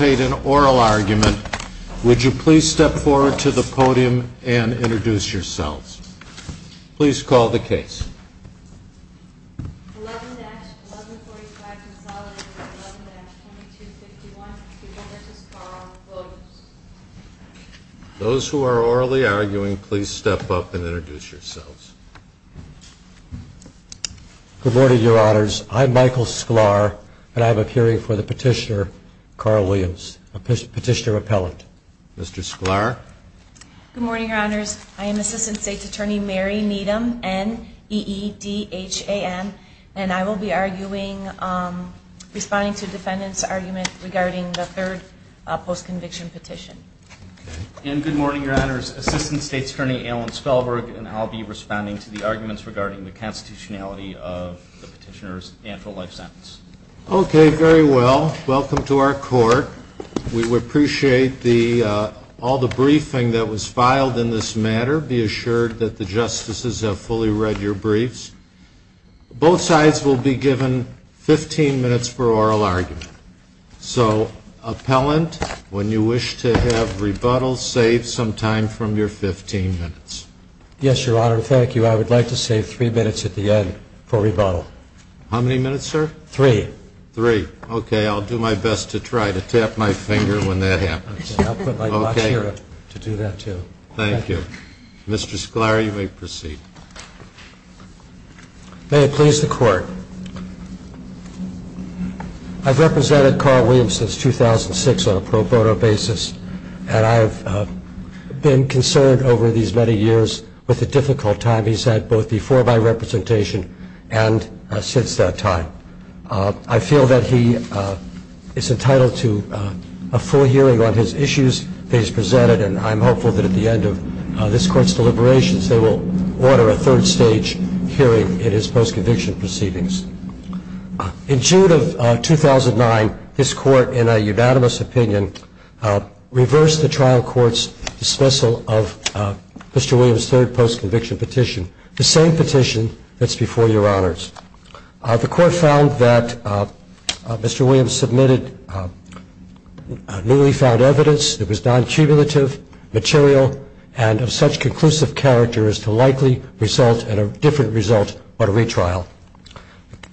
an oral argument, would you please step forward to the podium and introduce yourselves. Please call the case. Those who are orally arguing, please step up and introduce yourselves. Good morning, Your Honors. I am Assistant State's Attorney Mary Needham, N-E-E-D-H-A-N, and I will be arguing, responding to the defendant's argument regarding the third post-conviction petition. And good morning, Your Honors. Assistant State's Attorney Alan Spellberg, and I'll be responding to the arguments regarding the constitutionality of the petitioner's actual life sentence. Okay, very well. Welcome to our court. We would appreciate all the briefing that was filed in this matter. Be assured that the justices have fully read your briefs. Both sides will be given 15 minutes for oral argument. So, appellant, when you wish to have rebuttal, save some time from your 15 minutes. Yes, Your Honor, thank you. I would Three. Three. Okay, I'll do my best to try to tap my finger when that happens. I'll put my watch here to do that, too. Thank you. Mr. Sklar, you may proceed. May it please the Court. I've represented Carl Williams since 2006 on a pro bono basis, and I've been concerned over these many years with the difficult time he's had both before my representation and since that time. I feel that he is entitled to a full hearing on his issues that he's presented, and I'm hopeful that at the end of this Court's deliberations they will order a third stage hearing in his post-conviction proceedings. In June of 2009, this Court, in a unanimous opinion, reversed the trial court's dismissal of Mr. Williams' third post-conviction petition, the same petition that's before Your Honors. The Court found that Mr. Williams submitted newly found evidence that was non-cumulative, material, and of such conclusive character as to likely result in a different result but a retrial.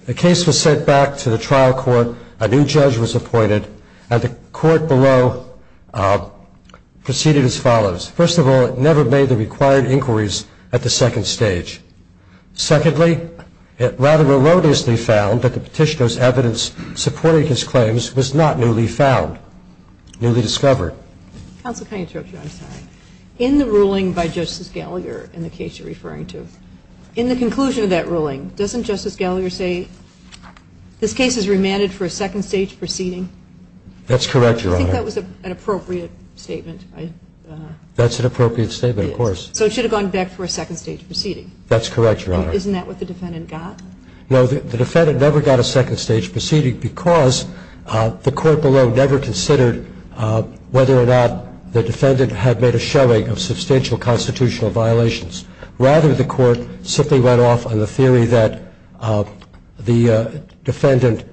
The case was sent back to the trial court, a new judge was appointed, and the Court below proceeded as follows. First of all, it never made the required inquiries at the second stage. Secondly, it rather erroneously found that the petitioner's evidence supporting his claims was not newly found, newly discovered. Counsel, can I interrupt you? I'm sorry. In the ruling by Justice Gallagher, in the case you're referring to, in the conclusion of that ruling, doesn't Justice Gallagher say this case is remanded for a second stage proceeding? That's correct, Your Honor. I think that was an appropriate statement. That's an appropriate statement, of course. So it should have gone back for a second stage proceeding. That's correct, Your Honor. Isn't that what the defendant got? No, the defendant never got a second stage proceeding because the Court below never considered whether or not the defendant had made a showing of substantial constitutional violations. Rather, the Court simply went off on the theory that the defendant's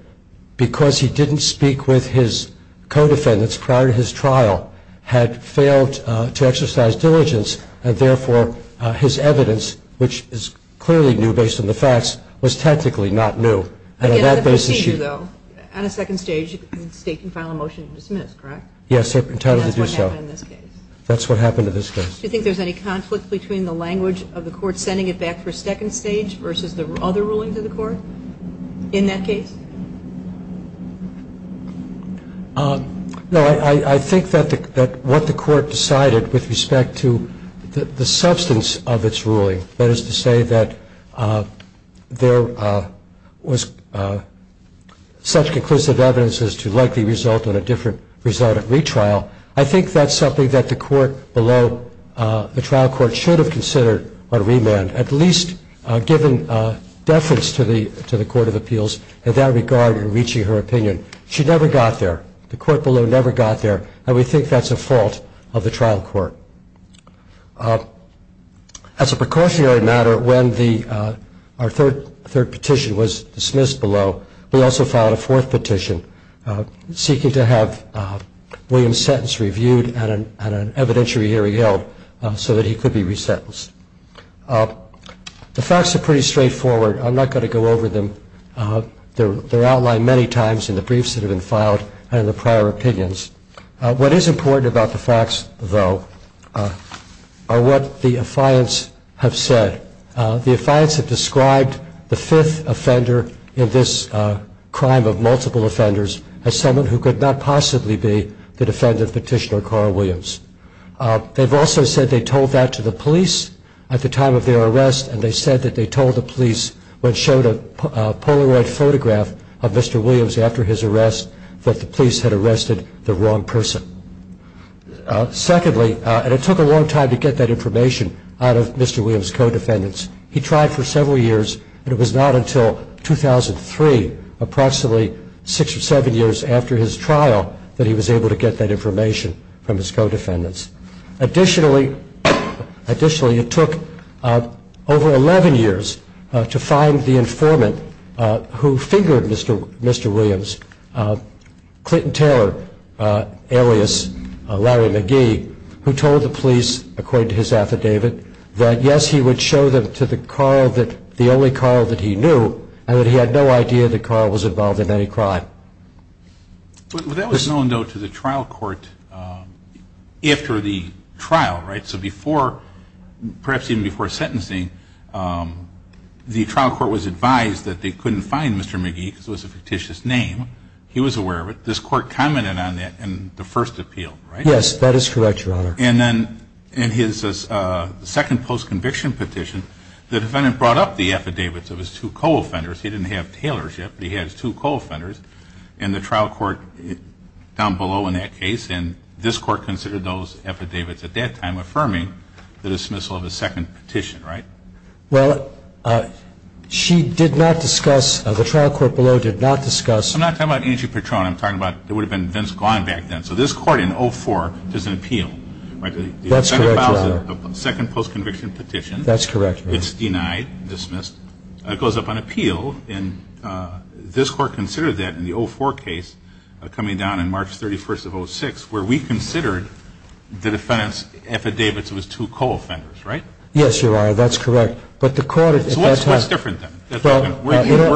prior to his trial had failed to exercise diligence, and therefore his evidence, which is clearly new based on the facts, was technically not new. Again, on a procedure, though, on a second stage, the State can file a motion to dismiss, correct? Yes, they're entitled to do so. That's what happened in this case. That's what happened in this case. Do you think there's any conflict between the language of the Court sending it back for a second stage versus the other rulings of the Court in that case? No, I think that what the Court decided with respect to the substance of its ruling, that is to say that there was such conclusive evidence as to likely result in a different result at retrial, I think that's something that the Court below the trial court should have considered or remanded, at least given deference to the Court of Appeals, in that regard in reaching her opinion. She never got there. The Court below never got there, and we think that's a fault of the trial court. As a precautionary matter, when our third petition was dismissed below, we also filed a fourth petition seeking to have William's sentence reviewed and an evidentiary hearing held so that he could be resentenced. The facts are pretty straightforward. I'm not going to go over them. They're outlined many times in the briefs that have been filed and in the prior opinions. What is important about the facts, though, are what the affiants have said. The affiants have described the fifth offender in this crime of multiple offenders as someone who could not possibly be the defendant of Petitioner Carl Williams. They've also said they told that to the police at the time of their arrest, and they said that they told the police, when showed a Polaroid photograph of Mr. Williams after his arrest, that the police had arrested the wrong person. Secondly, and it took a long time to get that information out of Mr. Williams' co-defendants, he tried for several years, and it was not until 2003, approximately six or seven years after his trial, that he was able to get that information out of the co-defendants. Additionally, it took over 11 years to find the informant who fingered Mr. Williams, Clinton Taylor, alias Larry McGee, who told the police, according to his affidavit, that yes, he would show them to the only Carl that he knew, and that he had no idea that Carl was involved in any crime. Well, that was known, though, to the trial court after the trial, right? So before, perhaps even before sentencing, the trial court was advised that they couldn't find Mr. McGee because it was a fictitious name. He was aware of it. This court commented on that in the first appeal, right? Yes, that is correct, Your Honor. And then in his second post-conviction petition, the defendant brought up the affidavits of his two co-offenders. He didn't have Taylor's yet, but he had his two co-offenders. And the trial court down below in that case, and this court considered those affidavits at that time, affirming the dismissal of his second petition, right? Well, she did not discuss, the trial court below did not discuss. I'm not talking about Angie Patron. I'm talking about, it would have been Vince Glenn back then. So this court in 04 does an appeal, right? That's correct, Your Honor. Second post-conviction petition. That's correct, Your Honor. It's denied, dismissed. It goes up on appeal, and this court considered that in the 04 case coming down on March 31st of 06, where we considered the defendant's affidavits of his two co-offenders, right? Yes, Your Honor, that's correct. But the court at that time- So what's different then?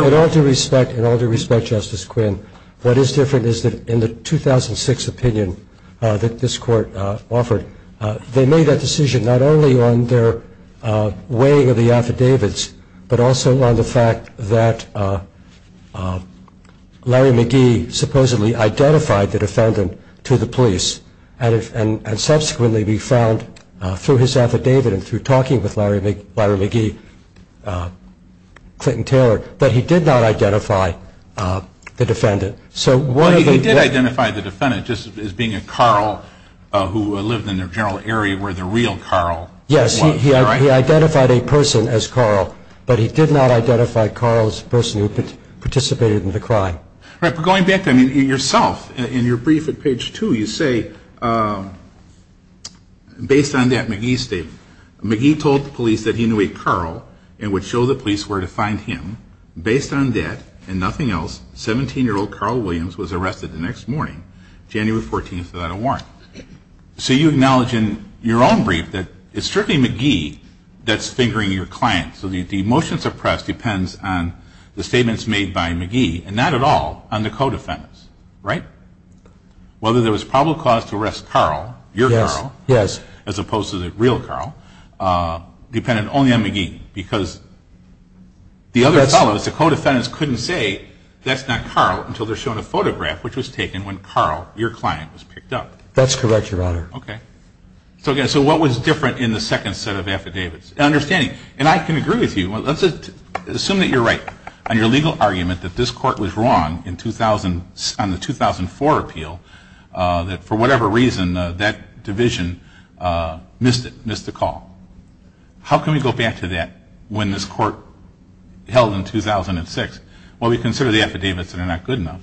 In all due respect, Justice Quinn, what is different is that in the 2006 opinion that this court offered, they made that decision not only on their weighing of the affidavits, but also on the fact that Larry McGee supposedly identified the defendant to the police, and subsequently we found through his affidavit and through talking with Larry McGee, Clinton Taylor, that he did not identify the defendant. So one of the- Well, he did identify the defendant, just as being a Carl who lived in the general area where the real Carl was. He identified a person as Carl, but he did not identify Carl as a person who participated in the crime. Right, but going back, I mean, yourself, in your brief at page 2, you say, based on that McGee statement, McGee told the police that he knew a Carl and would show the police where to find him. Based on that and nothing else, 17-year-old Carl Williams was arrested the next morning, January 14th, without a warrant. So you acknowledge in your own brief that it's strictly McGee that's fingering your client. So the motion suppressed depends on the statements made by McGee, and not at all on the co-defendants, right? Whether there was probable cause to arrest Carl, your Carl, as opposed to the real Carl, depended only on McGee, because the other fellows, the co-defendants couldn't say, that's not Carl, until they're shown a photograph, which was taken when Carl, your client, was picked up. That's correct, Your Honor. Okay. So again, so what was different in the second set of affidavits? Understanding, and I can agree with you, let's assume that you're right on your legal argument that this court was wrong in 2000, on the 2004 appeal, that for whatever reason, that division missed it, missed the call. How can we go back to that when this court held in 2006? Well, we consider the affidavits that are not good enough.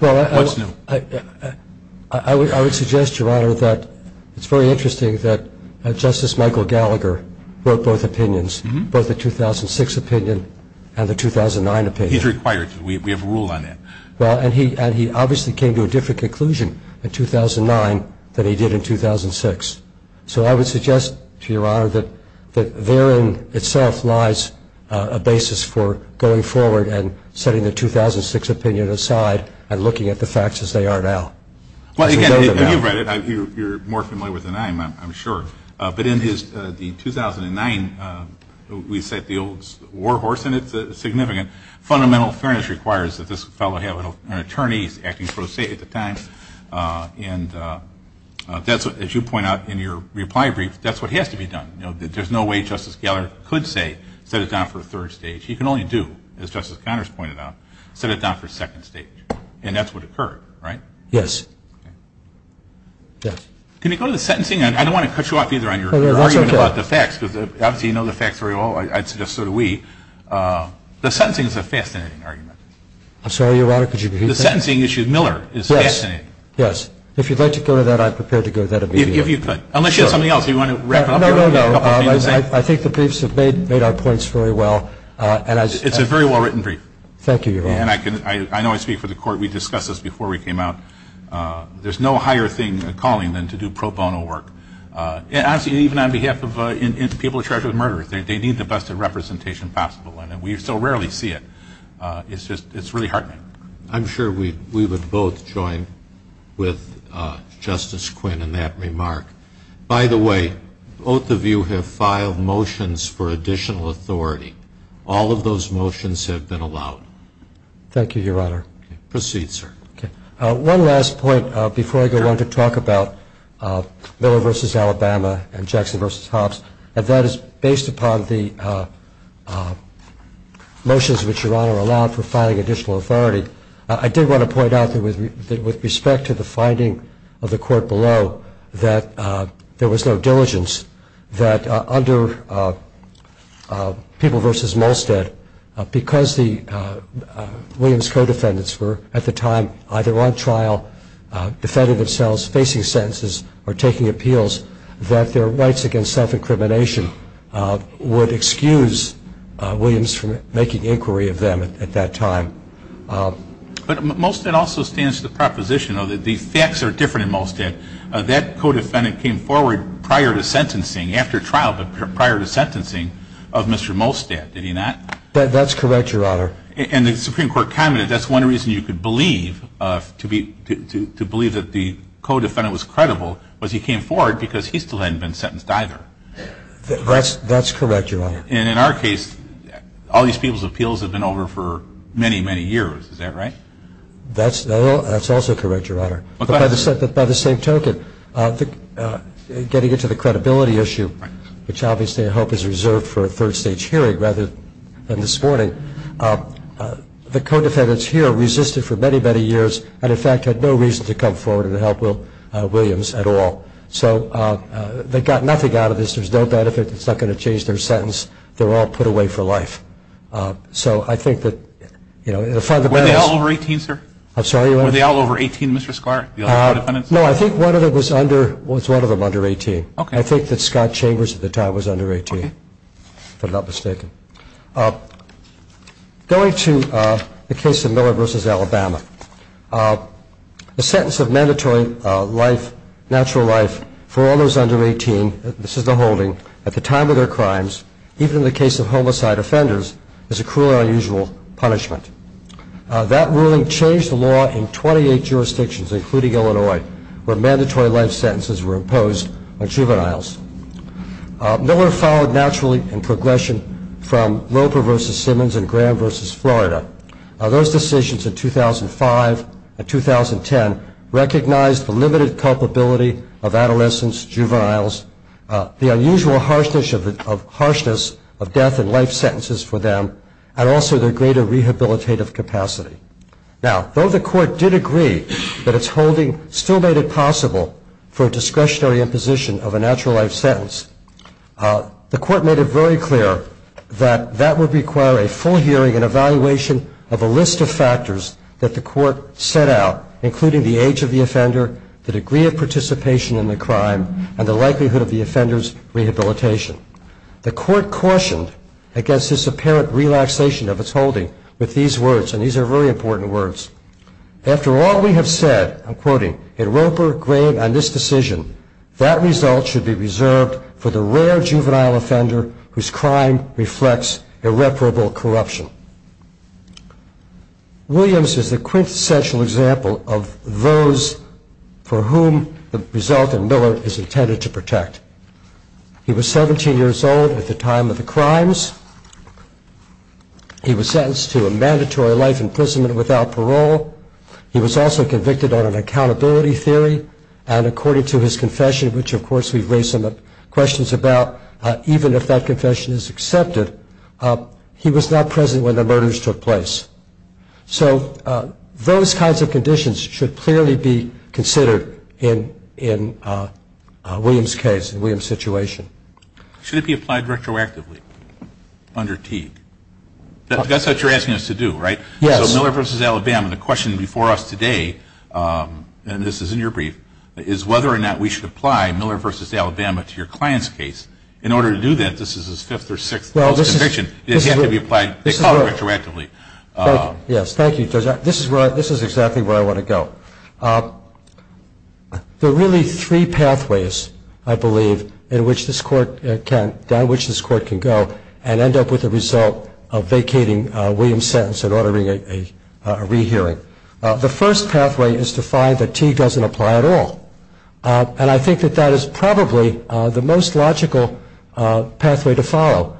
What's new? I would suggest, Your Honor, that it's very interesting that Justice Michael Gallagher wrote both opinions, both the 2006 opinion and the 2009 opinion. He's required to. We have a rule on that. Well, and he obviously came to a different conclusion in 2009 than he did in 2006. So I would suggest to Your Honor that there in itself lies a basis for going forward and setting the 2006 opinion aside and looking at the facts as they are now. Well, again, if you've read it, you're more familiar with it than I am, I'm sure. But in the 2009, we set the old war horse, and it's significant. Fundamental fairness requires that this fellow have an attorney acting pro se at the time. And that's, as you point out in your reply brief, that's what has to be done. You know, there's no way Justice Gallagher could say, set it down for a third stage. He can only do, as Justice Connors pointed out, set it down for a second stage. And that's what occurred, right? Yes. Can you go to the sentencing? I don't want to cut you off either on your argument about the facts, because obviously you know the facts very well. I'd suggest so do we. The sentencing is a fascinating argument. I'm sorry, Your Honor, could you repeat that? The sentencing issue, Miller, is fascinating. Yes. Yes. If you'd like to go to that, I'm prepared to go to that immediately. If you could. Unless you have something else. Do you want to wrap it up here? No, no, no. I think the briefs have made our points very well. It's a very well-written brief. Thank you, Your Honor. And I know I speak for the Court. We discussed this before we came out. There's no higher thing, a calling, than to do pro bono work. And honestly, even on behalf of people charged with murder, they need the best representation possible. And we so rarely see it. It's just, it's really heartening. I'm sure we would both join with Justice Quinn in that remark. By the way, both of you have filed motions for additional authority. All of those motions have been allowed. Thank you, Your Honor. Proceed, sir. One last point before I go on to talk about Miller versus Alabama and Jackson versus Hobbs, and that is based upon the motions which Your Honor allowed for filing additional authority. I did want to point out that with respect to the finding of the court below that there was no diligence, that under People versus Molstead, because the Williams co-defendants were at the time either on trial, defending themselves, facing sentences, or taking appeals, that their rights against self-incrimination would excuse Williams from making inquiry of them at that time. But Molstead also stands to the proposition that the facts are different in Molstead. That co-defendant came forward prior to sentencing, after trial, but prior to sentencing of Mr. Molstead, did he not? That's correct, Your Honor. And the Supreme Court commented that's one reason you could believe that the co-defendant was credible was he came forward because he still hadn't been sentenced either. That's correct, Your Honor. And in our case, all these people's appeals have been over for many, many years. Is that right? That's also correct, Your Honor. But by the same token, getting into the credibility issue, which obviously I hope is reserved for a third stage hearing rather than this morning, the co-defendants here resisted for many, many years, and in fact, had no reason to come forward and help Williams at all. So they got nothing out of this. There's no benefit. It's not going to change their sentence. They're all put away for life. So I think that the fundamental is- Were they all over 18, sir? I'm sorry, what? Were they all over 18, Mr. Sklar, the other co-defendants? No, I think one of them was under 18. I think that Scott Chambers at the time was under 18, if I'm not mistaken. Going to the case of Miller versus Alabama, the sentence of mandatory natural life for all those under 18, this is the holding, at the time of their crimes, even in the case of homicide offenders, is a cruelly unusual punishment. That ruling changed the law in 28 jurisdictions, including Illinois, where mandatory life sentences were imposed on juveniles. Miller followed naturally in progression from Loper versus Simmons and Graham versus Florida. Those decisions in 2005 and 2010 recognized the limited culpability of adolescents, juveniles, the unusual harshness of death and life sentences for them, and also their greater rehabilitative capacity. Now, though the court did agree that its holding still made it possible for a discretionary imposition of a natural life sentence, the court made it very clear that that would require a full hearing and evaluation of a list of factors that the court set out, including the age of the offender, the degree of participation in the crime, and the likelihood of the offender's rehabilitation. The court cautioned against this apparent relaxation of its holding with these words, and these are very important words. After all we have said, I'm quoting, in Loper, Graham, and this decision, that result should be reserved for the rare juvenile offender whose crime reflects irreparable corruption. Williams is a quintessential example of those for whom the result in Miller is intended to protect. He was 17 years old at the time of the crimes. He was sentenced to a mandatory life imprisonment without parole. He was also convicted on an accountability theory, and according to his confession, which of course we've raised some questions about, when the murders took place. So, those kinds of conditions should clearly be considered in Williams' case, in Williams' situation. Should it be applied retroactively under Teague? That's what you're asking us to do, right? Yes. So Miller versus Alabama, the question before us today, and this is in your brief, is whether or not we should apply Miller versus Alabama to your client's case. In order to do that, this is his fifth or sixth conviction, does he have to be applied retroactively? Yes, thank you. This is exactly where I want to go. There are really three pathways, I believe, down which this court can go and end up with the result of vacating Williams' sentence and ordering a rehearing. The first pathway is to find that Teague doesn't apply at all. And I think that that is probably the most logical pathway to follow.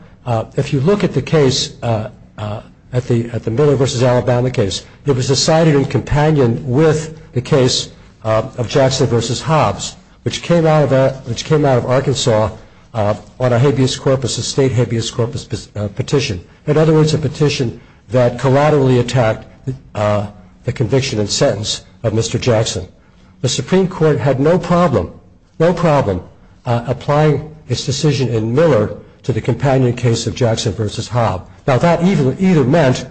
If you look at the case, at the Miller versus Alabama case, it was decided in companion with the case of Jackson versus Hobbs, which came out of Arkansas on a habeas corpus, a state habeas corpus petition. In other words, a petition that collaterally attacked the conviction and sentence of Mr. Jackson. Now, that either meant,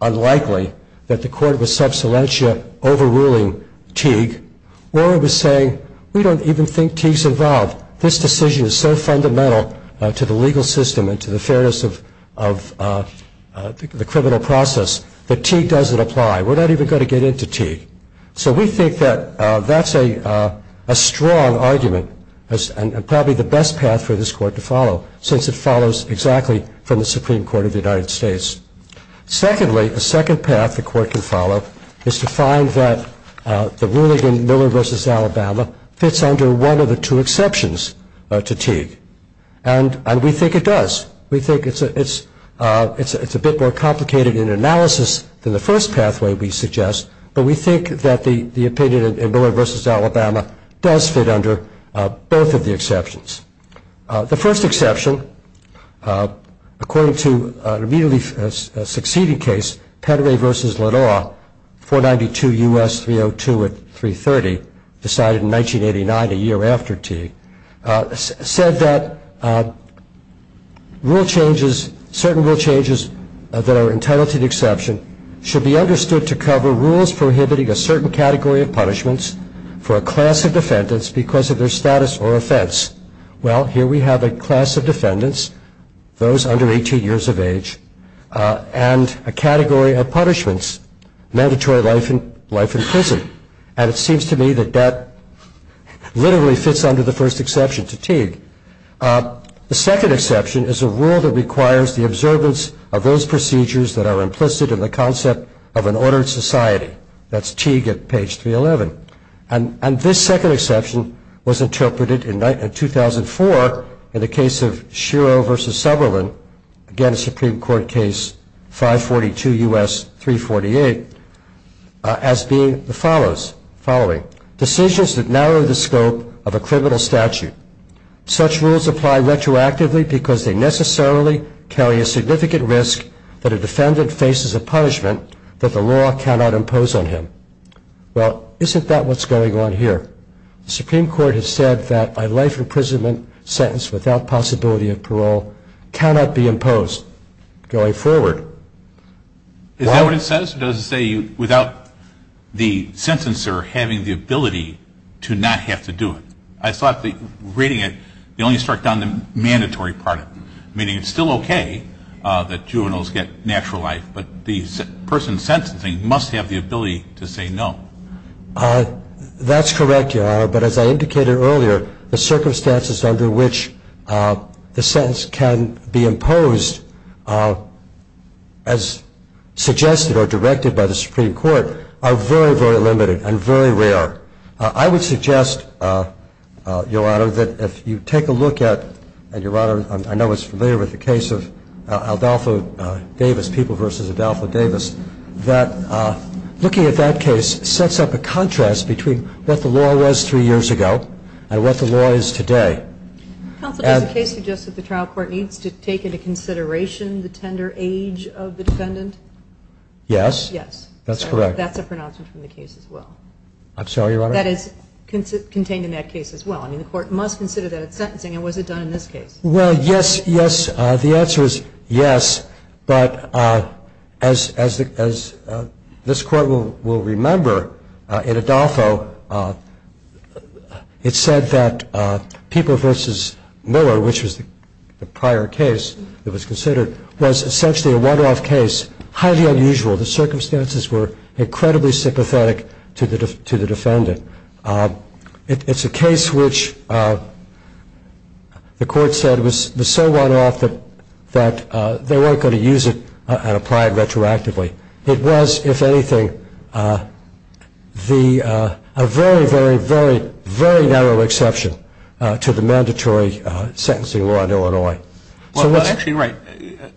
unlikely, that the court was subsilentia overruling Teague. Or it was saying, we don't even think Teague's involved. This decision is so fundamental to the legal system and to the fairness of the criminal process that Teague doesn't apply. We're not even going to get into Teague. So we think that that's a strong argument and probably the best path for this court to follow, since it follows exactly from the Supreme Court of the United States. Secondly, a second path the court can follow is to find that the ruling in Miller versus Alabama fits under one of the two exceptions to Teague. And we think it does. We think it's a bit more complicated in analysis than the first pathway we suggest. But we think that the opinion in Miller versus Alabama does fit under both of the exceptions. The first exception, according to an immediately succeeding case, Pedre versus Lenoir, 492 U.S. 302 at 330, decided in 1989, a year after Teague, said that rule changes, certain rule changes that are entitled to the exception should be understood to cover rules prohibiting a certain category of punishments for a class of defendants because of their status or offense. Well, here we have a class of defendants, those under 18 years of age, and a category of punishments, mandatory life in prison. And it seems to me that that literally fits under the first exception to Teague. The second exception is a rule that requires the observance of those procedures that are implicit in the concept of an ordered society. That's Teague at page 311. And this second exception was interpreted in 2004 in the case of Shiro versus Subberlin, again a Supreme Court case, 542 U.S. 348, as being the following. Decisions that narrow the scope of a criminal statute. Such rules apply retroactively because they necessarily carry a significant risk that a defendant faces a punishment that the law cannot impose on him. Well, isn't that what's going on here? The Supreme Court has said that a life imprisonment sentence without possibility of parole cannot be imposed going forward. Is that what it says? It doesn't say without the sentencer having the ability to not have to do it. I thought reading it, they only struck down the mandatory part of it. Meaning it's still okay that juveniles get natural life, but the person sentencing must have the ability to say no. That's correct, Your Honor, but as I indicated earlier, the circumstances under which the sentence can be imposed, as suggested or directed by the Supreme Court, are very, very limited and very rare. I would suggest, Your Honor, that if you take a look at, and I know it's familiar with the case of Aldalfa Davis, People v. Aldalfa Davis, that looking at that case sets up a contrast between what the law was three years ago and what the law is today. Counsel, does the case suggest that the trial court needs to take into consideration the tender age of the defendant? Yes. Yes. That's correct. That's a pronouncement from the case as well. I'm sorry, Your Honor? That is contained in that case as well. I mean, the court must consider that it's sentencing, and was it done in this case? Well, yes, yes. The answer is yes. But as this court will remember, in Adolfo, it said that People v. Miller, which was the prior case that was considered, was essentially a one-off case, highly unusual. The circumstances were incredibly sympathetic to the defendant. It's a case which the court said was so one-off that they weren't going to use it and apply it retroactively. It was, if anything, a very, very, very, very narrow exception to the mandatory sentencing law in Illinois. Well, actually, right.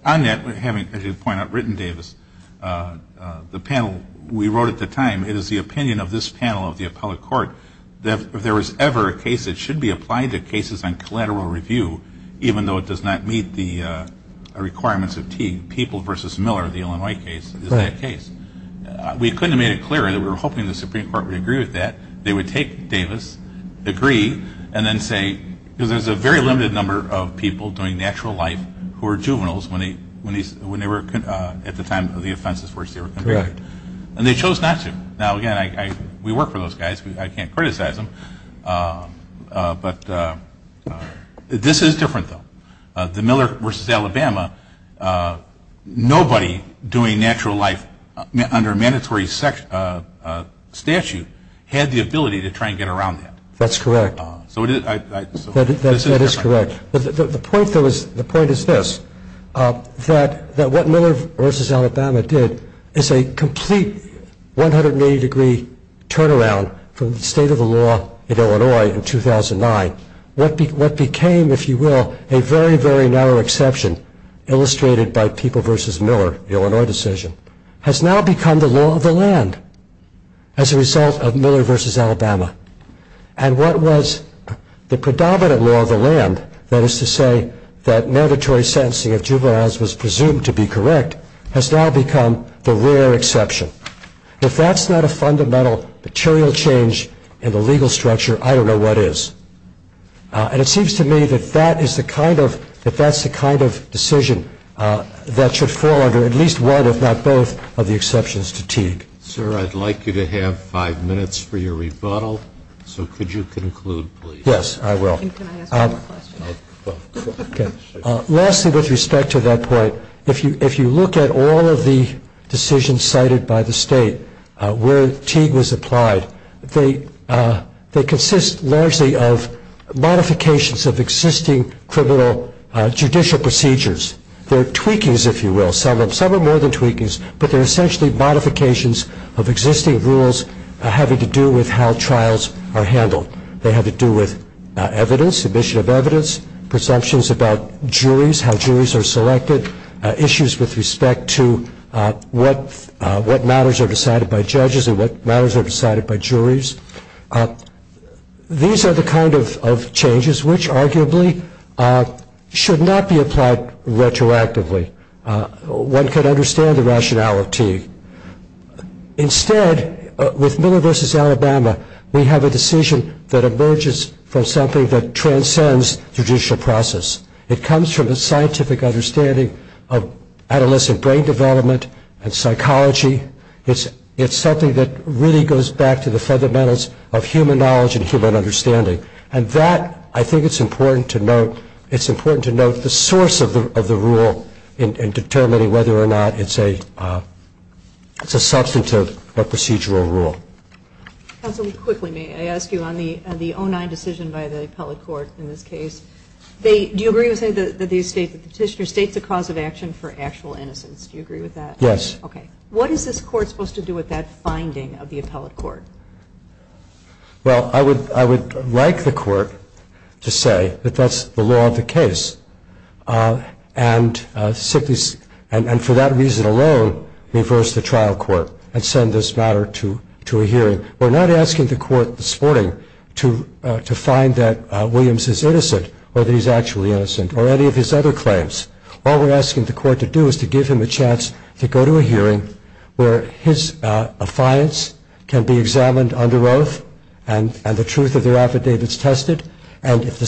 On that, having, as you point out, written Davis, the panel we wrote at the time, it is the opinion of this panel of the appellate court that if there was ever a case that should be applied to cases on collateral review, even though it does not meet the requirements of Teague, People v. Miller, the Illinois case, is that case. We couldn't have made it clearer. We were hoping the Supreme Court would agree with that. They would take Davis, agree, and then say, because there's a very limited number of people doing natural life who are juveniles when they were, at the time the offense was forced, they were convicted. And they chose not to. Now, again, we work for those guys. I can't criticize them, but this is different, though. The Miller v. Alabama, nobody doing natural life under a mandatory statute had the ability to try and get around that. That's correct. So it is, I, so. That is correct. The point, though, is, the point is this, that what Miller v. Alabama did is a complete 180 degree turnaround from the state of the law in Illinois in 2009. What became, if you will, a very, very narrow exception, illustrated by People v. Miller, the Illinois decision, has now become the law of the land as a result of Miller v. Alabama. And what was the predominant law of the land, that is to say, that mandatory sentencing of juveniles was presumed to be correct, has now become the rare exception. If that's not a fundamental material change in the legal structure, I don't know what is. And it seems to me that that is the kind of, that that's the kind of decision that should fall under at least one, if not both, of the exceptions to Teague. Sir, I'd like you to have five minutes for your rebuttal. So could you conclude, please? Yes, I will. Can I ask one more question? OK. Lastly, with respect to that point, if you look at all of the decisions cited by the state where Teague was applied, they consist largely of modifications of existing criminal judicial procedures. They're tweakings, if you will. Some are more than tweakings, but they're essentially modifications of existing rules having to do with how trials are handled. They have to do with evidence, admission of evidence, presumptions about juries, how juries are selected, issues with respect to what matters are decided by judges and what matters are decided by juries. These are the kind of changes which arguably should not be applied retroactively. One could understand the rationale of Teague. Instead, with Miller v. Alabama, we have a decision that emerges from something that transcends judicial process. It comes from a scientific understanding of adolescent brain development and psychology. It's something that really goes back to the fundamentals of human knowledge and human understanding. And that, I think it's important to note. It's important to note the source of the rule in determining whether or not it's a substantive or procedural rule. Counsel, quickly, may I ask you, on the 09 decision by the appellate court in this case, do you agree with the state that the petitioner states a cause of action for actual innocence? Do you agree with that? Yes. OK. What is this court supposed to do with that finding of the appellate court? Well, I would like the court to say that that's the law of the case. And for that reason alone, reverse the trial court and send this matter to a hearing. We're not asking the court this morning to find that Williams is innocent, or that he's actually innocent, or any of his other claims. All we're asking the court to do is to give him a chance to go to a hearing where his affiance can be examined under oath and the truth of their affidavits tested. And if the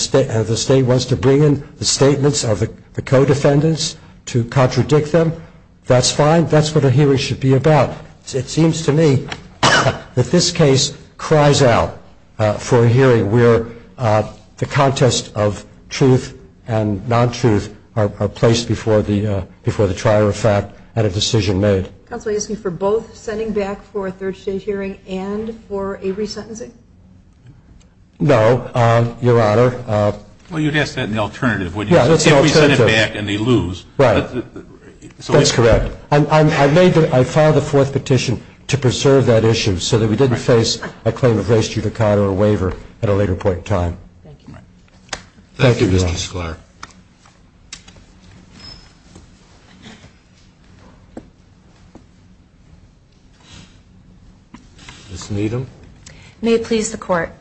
state wants to bring in the statements of the co-defendants to contradict them, that's fine. That's what a hearing should be about. It seems to me that this case cries out for a hearing where the contest of truth and non-truth are placed before the trial of fact and a decision made. Counsel, are you asking for both sending back for a third stage hearing and for a resentencing? No, Your Honor. Well, you'd ask that in the alternative, wouldn't you? Yeah, that's the alternative. If we send him back and they lose. Right. That's correct. I made the, I filed a fourth petition to preserve that issue so that we didn't face a claim of race judicata or waiver at a later point in time. Thank you. Thank you, Mr. Sklar. Ms. Needham. May it please the Court.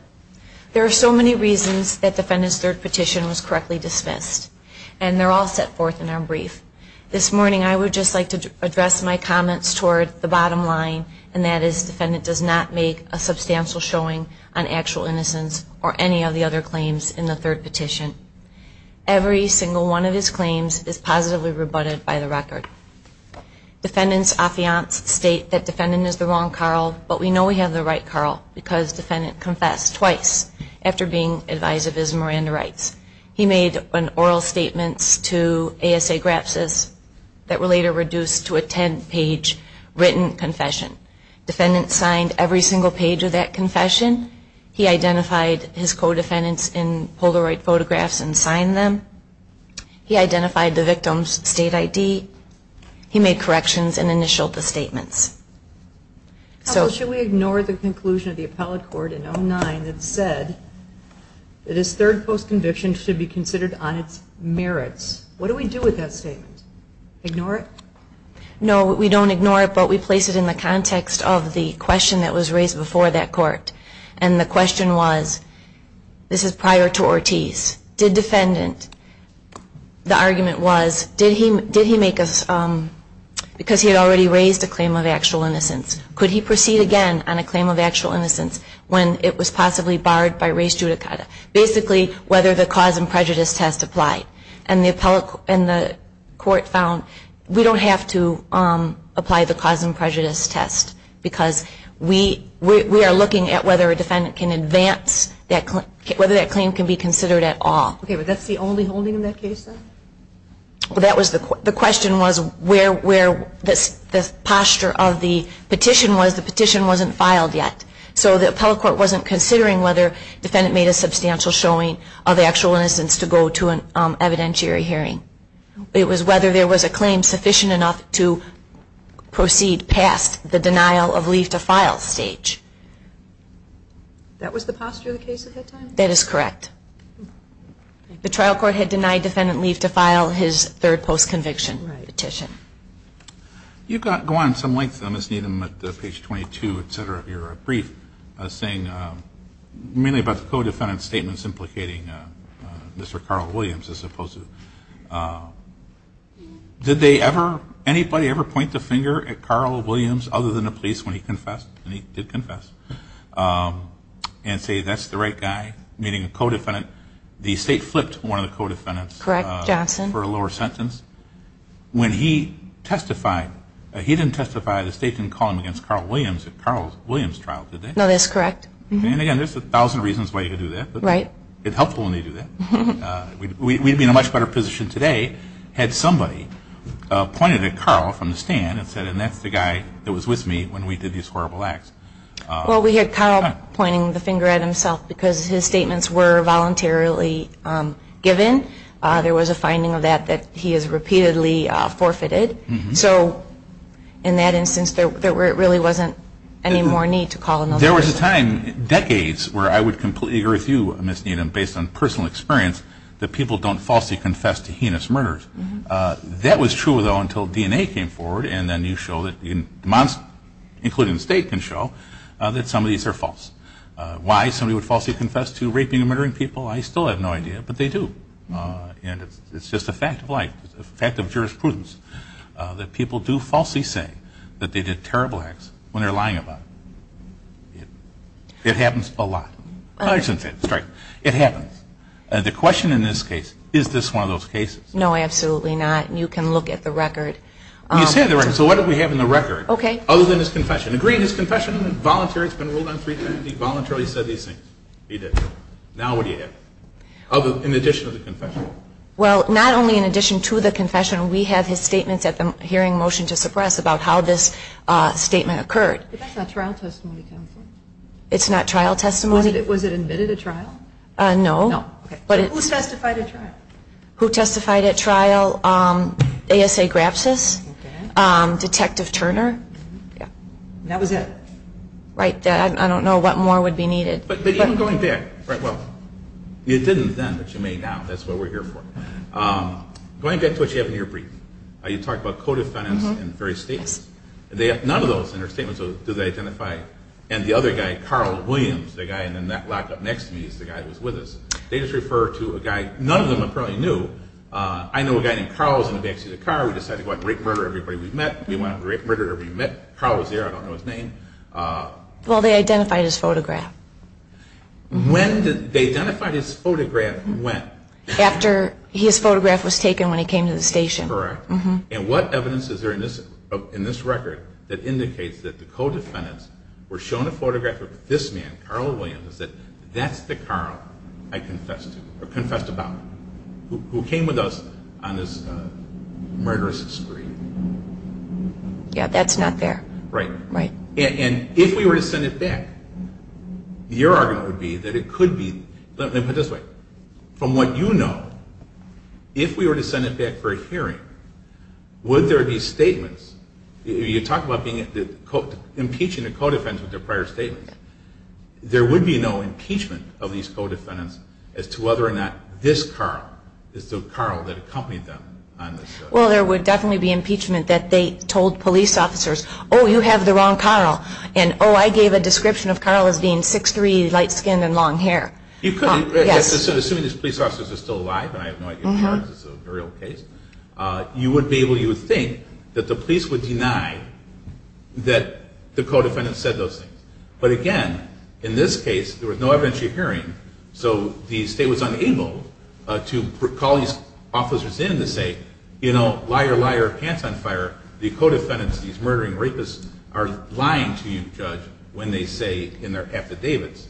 There are so many reasons that defendant's third petition was correctly dismissed. And they're all set forth in our brief. This morning, I would just like to address my comments toward the bottom line, and that is defendant does not make a substantial showing on actual innocence or any of the other claims in the third petition. Every single one of his claims is positively rebutted by the record. Defendant's affiants state that defendant is the wrong Carl, but we know we have the right Carl because defendant confessed twice after being advised of his Miranda rights. He made oral statements to ASA-GRAPSIS that were later reduced to a 10-page written confession. Defendant signed every single page of that confession. He identified his co-defendants in Polaroid photographs and signed them. He identified the victim's state ID. He made corrections and initialed the statements. Counsel, should we ignore the conclusion of the appellate court in 09 that said that his third post-conviction should be considered on its merits? What do we do with that statement? Ignore it? No, we don't ignore it, but we place it in the context of the question that was raised before that court. And the question was, this is prior to Ortiz, did defendant, the argument was, did he make a, because he had already raised a claim of actual innocence, could he proceed again on a claim of actual innocence when it was possibly barred by race judicata? Basically, whether the cause and prejudice test applied. And the court found we don't have to apply the cause and prejudice test because we are looking at whether a defendant can advance, whether that claim can be considered at all. Okay, but that's the only holding in that case, then? The question was where the posture of the petition was. The petition wasn't filed yet. So the appellate court wasn't considering whether the defendant made a substantial showing of actual innocence to go to an evidentiary hearing. It was whether there was a claim sufficient enough to proceed past the denial of leave to file stage. That was the posture of the case at that time? That is correct. The trial court had denied defendant leave to file his third post-conviction petition. You go on some length, Ms. Needham, at page 22, et cetera, of your brief, saying mainly about the co-defendant statements implicating Mr. Carl Williams, as opposed to, did they ever, anybody ever point the finger at Carl Williams other than the police when he confessed? And he did confess. And say that's the right guy, meaning a co-defendant. The state flipped one of the co-defendants. Correct, Johnson. For a lower sentence. When he testified, he didn't testify, the state didn't call him against Carl Williams at Carl Williams' trial, did they? No, that's correct. And again, there's a thousand reasons why you could do that. Right. It's helpful when they do that. We'd be in a much better position today had somebody pointed at Carl from the stand and said, and that's the guy that was with me when we did these horrible acts. Well, we had Carl pointing the finger at himself because his statements were voluntarily given. There was a finding of that that he has repeatedly forfeited. So in that instance, there really wasn't any more need to call another person. There was a time, decades, where I would completely agree with you, Ms. Needham, based on personal experience that people don't falsely confess to heinous murders. That was true, though, until DNA came forward and then you show that, including the state, can show that some of these are false. Why somebody would falsely confess to raping and murdering people, I still have no idea, but they do. And it's just a fact of life, a fact of jurisprudence that people do falsely say that they did terrible acts when they're lying about it. It happens a lot. It happens. The question in this case, is this one of those cases? No, absolutely not. You can look at the record. You said the record. So what do we have in the record? Okay. Other than his confession. Agreed his confession voluntarily, it's been ruled on three times, he voluntarily said these things. He did. Now what do you have? In addition to the confession. Well, not only in addition to the confession. We have his statements at the hearing motion to suppress about how this statement occurred. But that's not trial testimony, counsel. It's not trial testimony? Was it admitted at trial? No. Okay. Who testified at trial? Who testified at trial? ASA Grapsis. Okay. Detective Turner. Yeah. And that was it. Right. I don't know what more would be needed. But even going back, right, well, you didn't then, but you may now. That's what we're here for. Going back to what you have in your brief, you talked about co-defendants in various states. None of those in your statements do they identify. And the other guy, Carl Williams, the guy in that lock up next to me is the guy that was with us. They just refer to a guy. None of them apparently knew. I know a guy named Carl was in the backseat of the car. We decided to go out and rape, murder everybody we met. We went out and raped, murdered everybody we met. Carl was there. I don't know his name. Well, they identified his photograph. They identified his photograph when? After his photograph was taken when he came to the station. Correct. And what evidence is there in this record that indicates that the co-defendants were shown a photograph of this man, Carl Williams, that that's the Carl I confessed to or confessed about, who came with us on this murderous spree? Yeah, that's not there. Right. Right. And if we were to send it back, your argument would be that it could be. Let me put it this way. From what you know, if we were to send it back for a hearing, would there be statements? You talk about impeaching the co-defendants with their prior statements. There would be no impeachment of these co-defendants as to whether or not this Carl is the Carl that accompanied them on this. Well, there would definitely be impeachment that they told police officers, oh, you have the wrong Carl, and, oh, I gave a description of Carl as being 6'3", light-skinned and long hair. You couldn't. Yes. Assuming these police officers are still alive, and I have no idea if Charles is a real case, you would be able to think that the police would deny that the co-defendants said those things. But, again, in this case, there was no evidentiary hearing, so the state was unable to call these officers in to say, you know, liar, liar, pants on fire, the co-defendants, these murdering rapists are lying to you, Judge, when they say in their affidavits,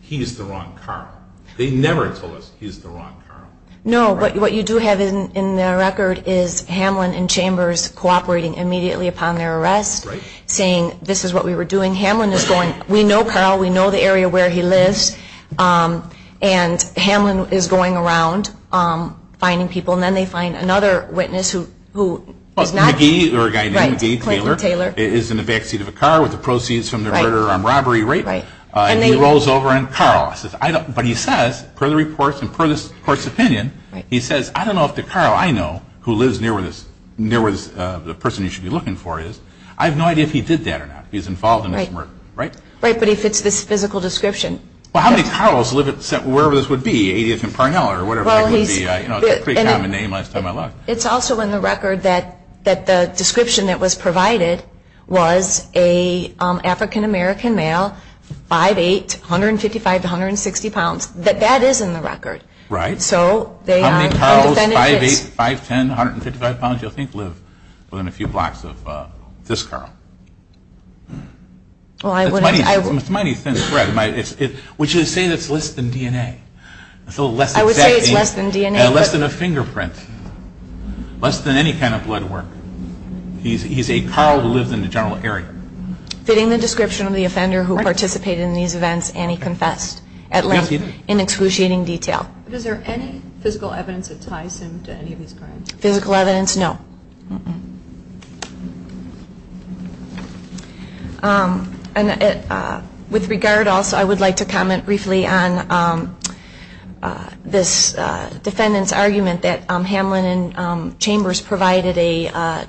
he's the wrong Carl. They never told us he's the wrong Carl. No, but what you do have in the record is Hamlin and Chambers cooperating immediately upon their arrest, saying this is what we were doing. Hamlin is going, we know Carl, we know the area where he lives, and Hamlin is going around finding people, and then they find another witness who is not. McGee, or a guy named McGee. Right, Clayton Taylor. Is in the back seat of a car with the proceeds from the murder and robbery rape. Right. And he rolls over and Carl. But he says, per the reports and per the court's opinion, he says, I don't know if the Carl I know, who lives near where the person you should be looking for is, I have no idea if he did that or not. He's involved in this murder. Right. Right, but he fits this physical description. Well, how many Carl's live at, wherever this would be, 80th and Parnell or whatever it would be. It's a pretty common name, last time I looked. It's also in the record that the description that was provided was an African American male, 5'8", 155 to 160 pounds. That is in the record. Right. So they are. How many Carl's 5'8", 5'10", 155 pounds you think live within a few blocks of this Carl? Well, I wouldn't. It's a mighty thin thread. Would you say it's less than DNA? I would say it's less than DNA. Less than a fingerprint. Less than any kind of blood work. He's a Carl who lives in the general area. Fitting the description of the offender who participated in these events, Annie confessed at length in excruciating detail. Is there any physical evidence that ties him to any of these crimes? Physical evidence, no. With regard also, I would like to comment briefly on this defendant's argument that Hamlin and Chambers provided a,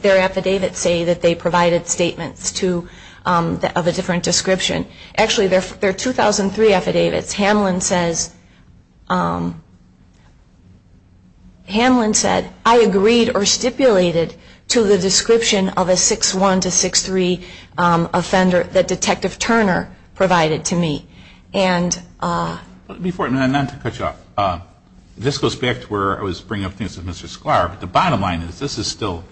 their affidavits say that they provided statements of a different description. Actually, their 2003 affidavits, Hamlin says, Hamlin said, I agreed or stipulated to the description of a 6'1"-6'3"-offender that Detective Turner provided to me. Before, not to cut you off, this goes back to where I was bringing up things with Mr. Sklar. The bottom line is this is still,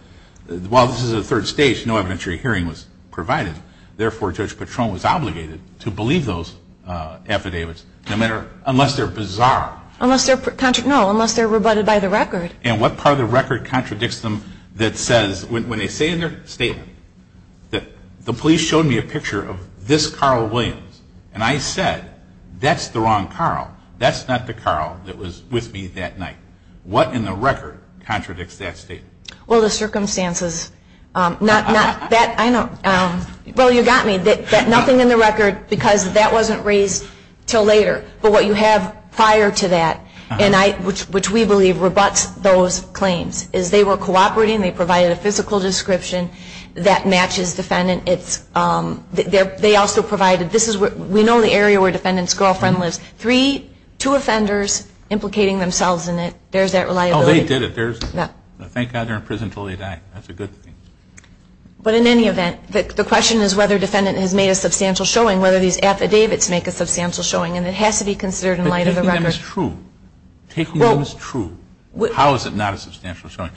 while this is a third stage, no evidentiary hearing was provided. Therefore, Judge Patron was obligated to believe those affidavits, no matter, unless they're bizarre. Unless they're, no, unless they're rebutted by the record. And what part of the record contradicts them that says, when they say in their statement, that the police showed me a picture of this Carl Williams, and I said, that's the wrong Carl. That's not the Carl that was with me that night. What in the record contradicts that statement? Well, the circumstances. Not that, I know, well, you got me. That nothing in the record, because that wasn't raised until later. But what you have prior to that, and I, which we believe rebuts those claims, is they were cooperating. They provided a physical description that matches defendant. It's, they also provided, this is, we know the area where defendant's girlfriend lives. Three, two offenders implicating themselves in it. There's that reliability. Oh, they did it. Thank God they're in prison until they die. That's a good thing. But in any event, the question is whether defendant has made a substantial showing, whether these affidavits make a substantial showing. And it has to be considered in light of the record. But taking them as true. Taking them as true. How is it not a substantial showing?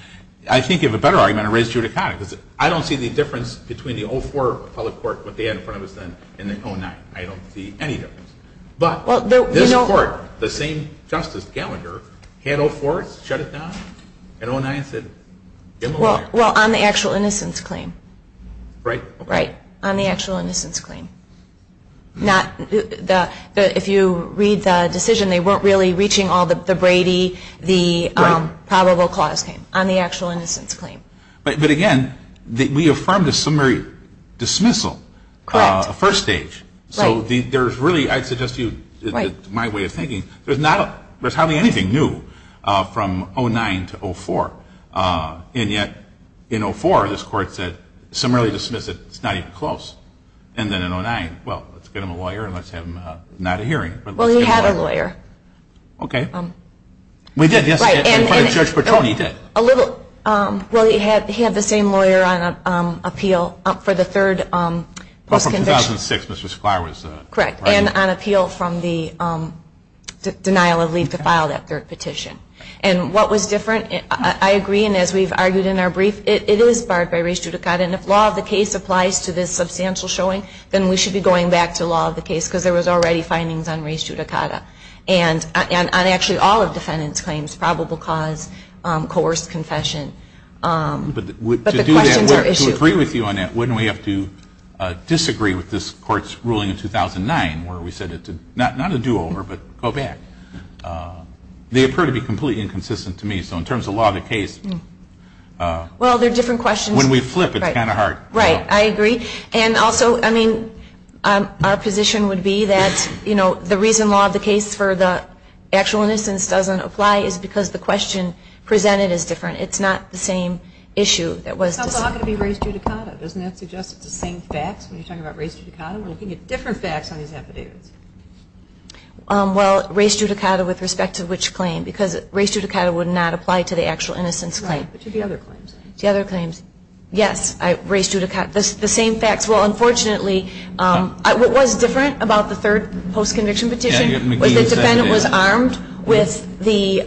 I think you have a better argument to raise judicata. Because I don't see the difference between the 04 public court, what they had in front of us then, and the 09. I don't see any difference. But this court, the same Justice Gallagher, had 04, shut it down, and 09 said give them a lawyer. Well, on the actual innocence claim. Right. Right. On the actual innocence claim. Not the, if you read the decision, they weren't really reaching all the Brady, the probable cause claim. On the actual innocence claim. But again, we affirmed a summary dismissal. Correct. First stage. So there's really, I suggest to you, my way of thinking, there's not, there's hardly anything new from 09 to 04. And yet, in 04, this court said, summary dismissal, it's not even close. And then in 09, well, let's get him a lawyer and let's have him, not a hearing, but let's get him a lawyer. Well, he had a lawyer. Okay. We did, yes. Right. Judge Petrone did. A little, well, he had the same lawyer on appeal for the third post-conviction. Correct. And on appeal from the denial of leave to file that third petition. And what was different, I agree, and as we've argued in our brief, it is barred by res judicata. And if law of the case applies to this substantial showing, then we should be going back to law of the case, because there was already findings on res judicata. And on actually all of defendant's claims, probable cause, coerced confession. But to do that, to agree with you on that, wouldn't we have to disagree with this court's ruling in 2009, where we said not a do-over, but go back? They appear to be completely inconsistent to me. So in terms of law of the case. Well, they're different questions. When we flip, it's kind of hard. Right. I agree. And also, I mean, our position would be that, you know, the reason law of the case for the actual innocence doesn't apply is because the question presented is different. It's not the same issue that was discussed. So it's all going to be res judicata. Doesn't that suggest it's the same facts when you're talking about res judicata? We're looking at different facts on these affidavits. Well, res judicata with respect to which claim? Because res judicata would not apply to the actual innocence claim. Right, but to the other claims. The other claims. Yes. Res judicata. The same facts. Well, unfortunately, what was different about the third post-conviction petition was the defendant was armed with the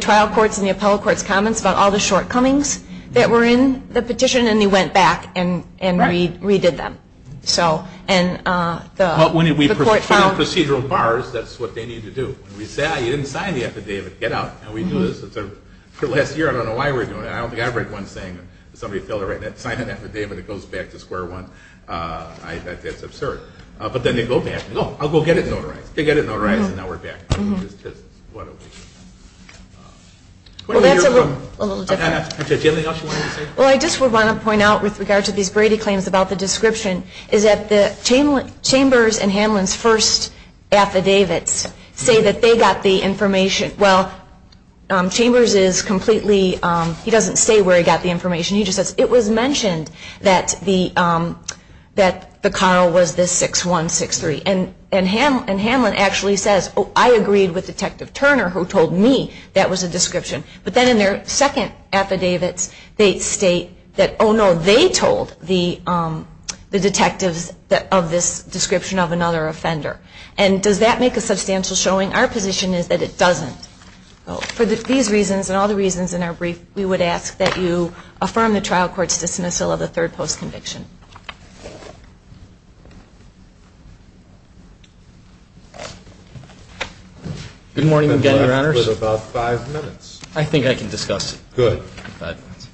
trial court's and the appellate court's comments about all the shortcomings that were in the petition. And they went back and redid them. So, and the court found Well, when we put in procedural bars, that's what they need to do. When we say, ah, you didn't sign the affidavit, get out. And we do this. It's a, for the last year, I don't know why we're doing it. I don't think I've read one saying that somebody failed to sign an affidavit and it goes back to square one. That's absurd. But then they go back and, no, I'll go get it notarized. They get it notarized and now we're back. Well, that's a little different. Did you have anything else you wanted to say? Well, I just want to point out with regard to these Brady claims about the description, is that the Chambers and Hamlin's first affidavits say that they got the information. Well, Chambers is completely, he doesn't say where he got the information. He just says, it was mentioned that the, that the car was this 6163. And Hamlin actually says, oh, I agreed with Detective Turner who told me that was a description. But then in their second affidavits, they state that, oh, no, they told the detectives of this description of another offender. And does that make a substantial showing? Our position is that it doesn't. For these reasons and all the reasons in our brief, we would ask that you affirm the trial court's dismissal of the third post conviction. Good morning again, Your Honors. You have about five minutes. I think I can discuss it. Good.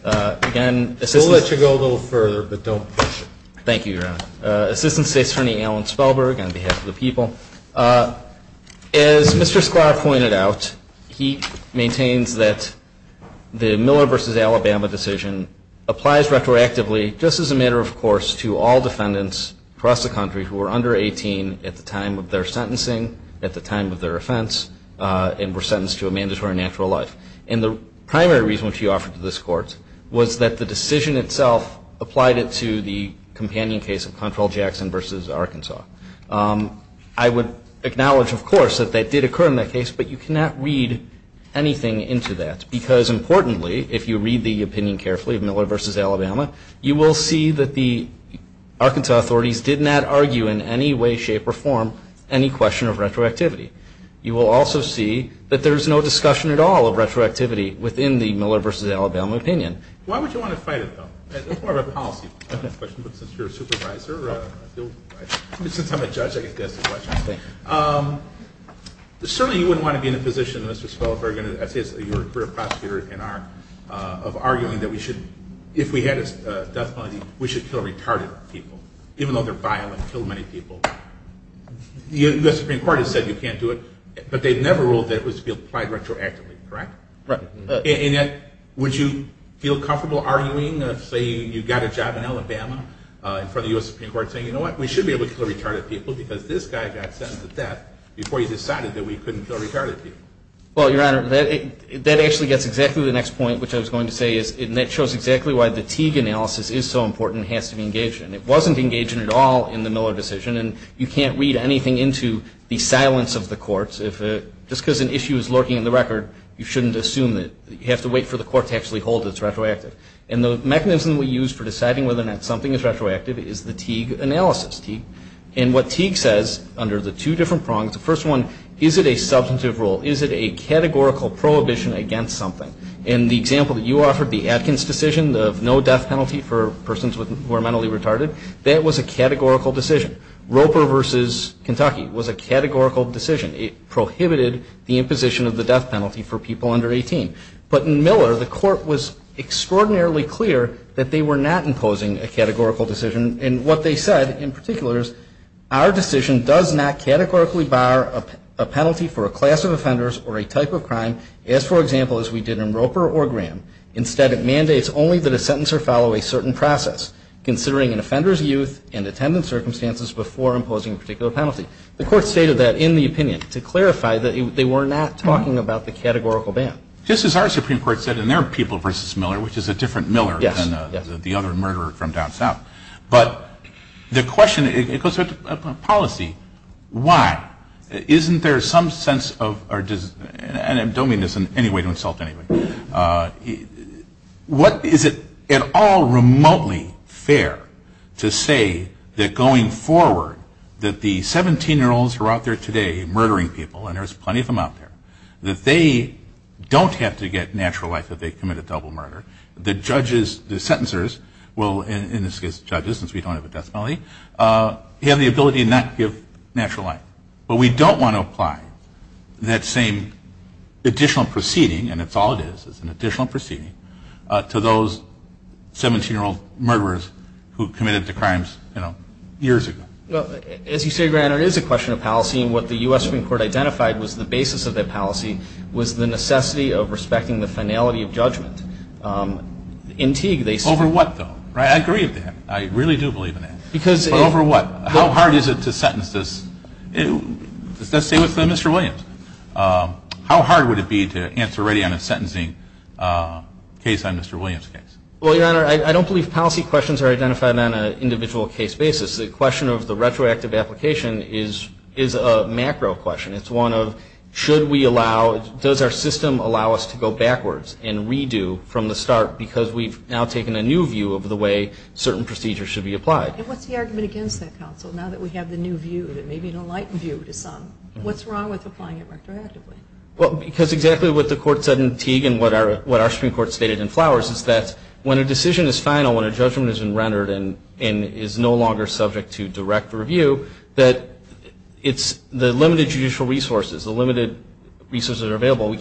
Again, Assistant. We'll let you go a little further, but don't push it. Thank you, Your Honor. Assistant State Attorney Alan Spellberg on behalf of the people. As Mr. Sklar pointed out, he maintains that the Miller v. Alabama decision applies retroactively just as a matter of course to all defendants across the country who were under 18 at the time of their sentencing, at the time of their offense, and were sentenced to a mandatory natural life. And the primary reason which he offered to this court was that the decision itself applied it to the companion case of Control Jackson v. Arkansas. I would acknowledge, of course, that that did occur in that case, but you cannot read anything into that. Because importantly, if you read the opinion carefully of Miller v. Alabama, you will see that the Arkansas authorities did not argue in any way, shape, or form any question of retroactivity. You will also see that there is no discussion at all of retroactivity within the Miller v. Alabama opinion. Why would you want to fight it, though? It's more of a policy question, but since you're a supervisor, since I'm a judge, I can ask the question. Certainly you wouldn't want to be in a position, Mr. Spellberg, as your career prosecutor of arguing that if we had a death penalty, we should kill retarded people, even though they're violent, kill many people. The U.S. Supreme Court has said you can't do it, but they've never ruled that it was to be applied retroactively, correct? Right. And yet, would you feel comfortable arguing, say you got a job in Alabama in front of the U.S. Supreme Court, saying, you know what, we should be able to kill retarded people because this guy got sentenced to death before he decided that we couldn't kill retarded people? Well, Your Honor, that actually gets exactly to the next point, which I was going to say, and that shows exactly why the Teague analysis is so important and has to be engaged in. It wasn't engaged at all in the Miller decision, and you can't read anything into the silence of the courts. Just because an issue is lurking in the record, you shouldn't assume that you have to wait for the court to actually hold it's retroactive. And the mechanism we use for deciding whether or not something is retroactive is the Teague analysis. And what Teague says under the two different prongs, the first one, is it a substantive rule? Is it a categorical prohibition against something? In the example that you offered, the Atkins decision of no death penalty for persons who are mentally retarded, that was a categorical decision. Roper versus Kentucky was a categorical decision. It prohibited the imposition of the death penalty for people under 18. But in Miller, the court was extraordinarily clear that they were not imposing a categorical decision. And what they said, in particular, is our decision does not categorically bar a penalty for a class of offenders or a type of crime, as, for example, as we did in Roper or Graham. Instead, it mandates only that a sentencer follow a certain process, considering an offender's youth and attendant circumstances before imposing a particular penalty. The court stated that in the opinion to clarify that they were not talking about the categorical ban. Just as our Supreme Court said in their people versus Miller, which is a different Miller than the other murderer from down south. But the question, it goes to policy. Why? Isn't there some sense of, and I don't mean this in any way to insult anybody, what is it at all remotely fair to say that going forward, that the 17-year-olds who are out there today murdering people, and there's plenty of them out there, that they don't have to get natural life if they commit a double murder. The judges, the sentencers, well, in this case, judges, since we don't have a death penalty, have the ability to not give natural life. But we don't want to apply that same additional proceeding, and it's all it is, it's an additional proceeding to those 17-year-old murderers who committed the crimes, you know, years ago. Well, as you say, Your Honor, it is a question of policy, and what the U.S. Supreme Court identified was the basis of that policy was the necessity of respecting the finality of judgment. In Teague, they said... Over what, though? I agree with that. I really do believe in that. But over what? How hard is it to sentence this? Does that stay with Mr. Williams? How hard would it be to answer, already on a sentencing case on Mr. Williams' case? Well, Your Honor, I don't believe policy questions are identified on an individual case basis. The question of the retroactive application is a macro question. It's one of should we allow, does our system allow us to go backwards and redo from the start because we've now taken a new view of the way certain procedures should be applied? And what's the argument against that, counsel, now that we have the new view, the maybe enlightened view to some? What's wrong with applying it retroactively? Well, because exactly what the Court said in Teague and what our Supreme Court stated in Flowers is that when a decision is final, when a judgment has been rendered and is no longer subject to direct review, that it's the limited judicial resources, the limited resources that are available,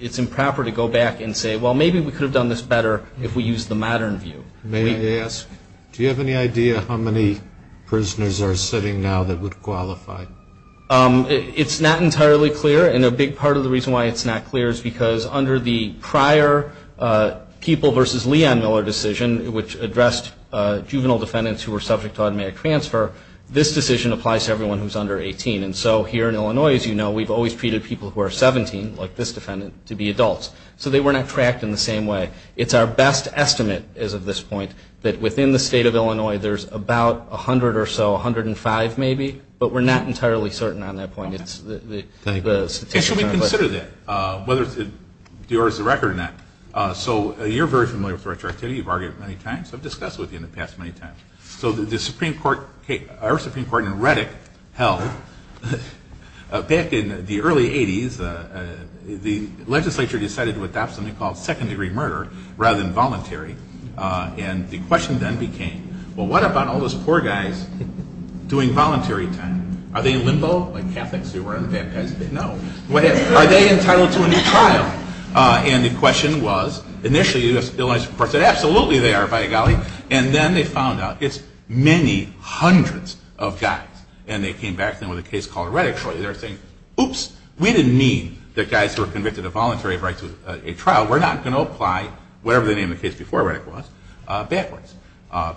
it's improper to go back and say, well, maybe we could have done this better if we used the modern view. May I ask, do you have any idea how many prisoners are sitting now that would qualify? It's not entirely clear. And a big part of the reason why it's not clear is because under the prior People v. Leon Miller decision, which addressed juvenile defendants who were subject to automatic transfer, this decision applies to everyone who's under 18. And so here in Illinois, as you know, we've always treated people who are 17, like this defendant, to be adults. So they were not tracked in the same way. It's our best estimate as of this point that within the State of Illinois, there's about 100 or so, 105 maybe, but we're not entirely certain on that point. And should we consider that, whether it's yours or not? So you're very familiar with retroactivity. You've argued it many times. I've discussed it with you in the past many times. So our Supreme Court in Reddick held back in the early 80s, the legislature decided to adopt something called second-degree murder rather than voluntary. And the question then became, well, what about all those poor guys doing voluntary time? Are they in limbo like Catholics who were on the baptized bed? No. Are they entitled to a new trial? And the question was, initially, the legislature said, absolutely they are, by golly. And then they found out it's many hundreds of guys. And they came back to them with a case called Reddick. They were saying, oops, we didn't mean that guys who were convicted of voluntary rights to a trial were not going to apply whatever the name of the case before Reddick was backwards,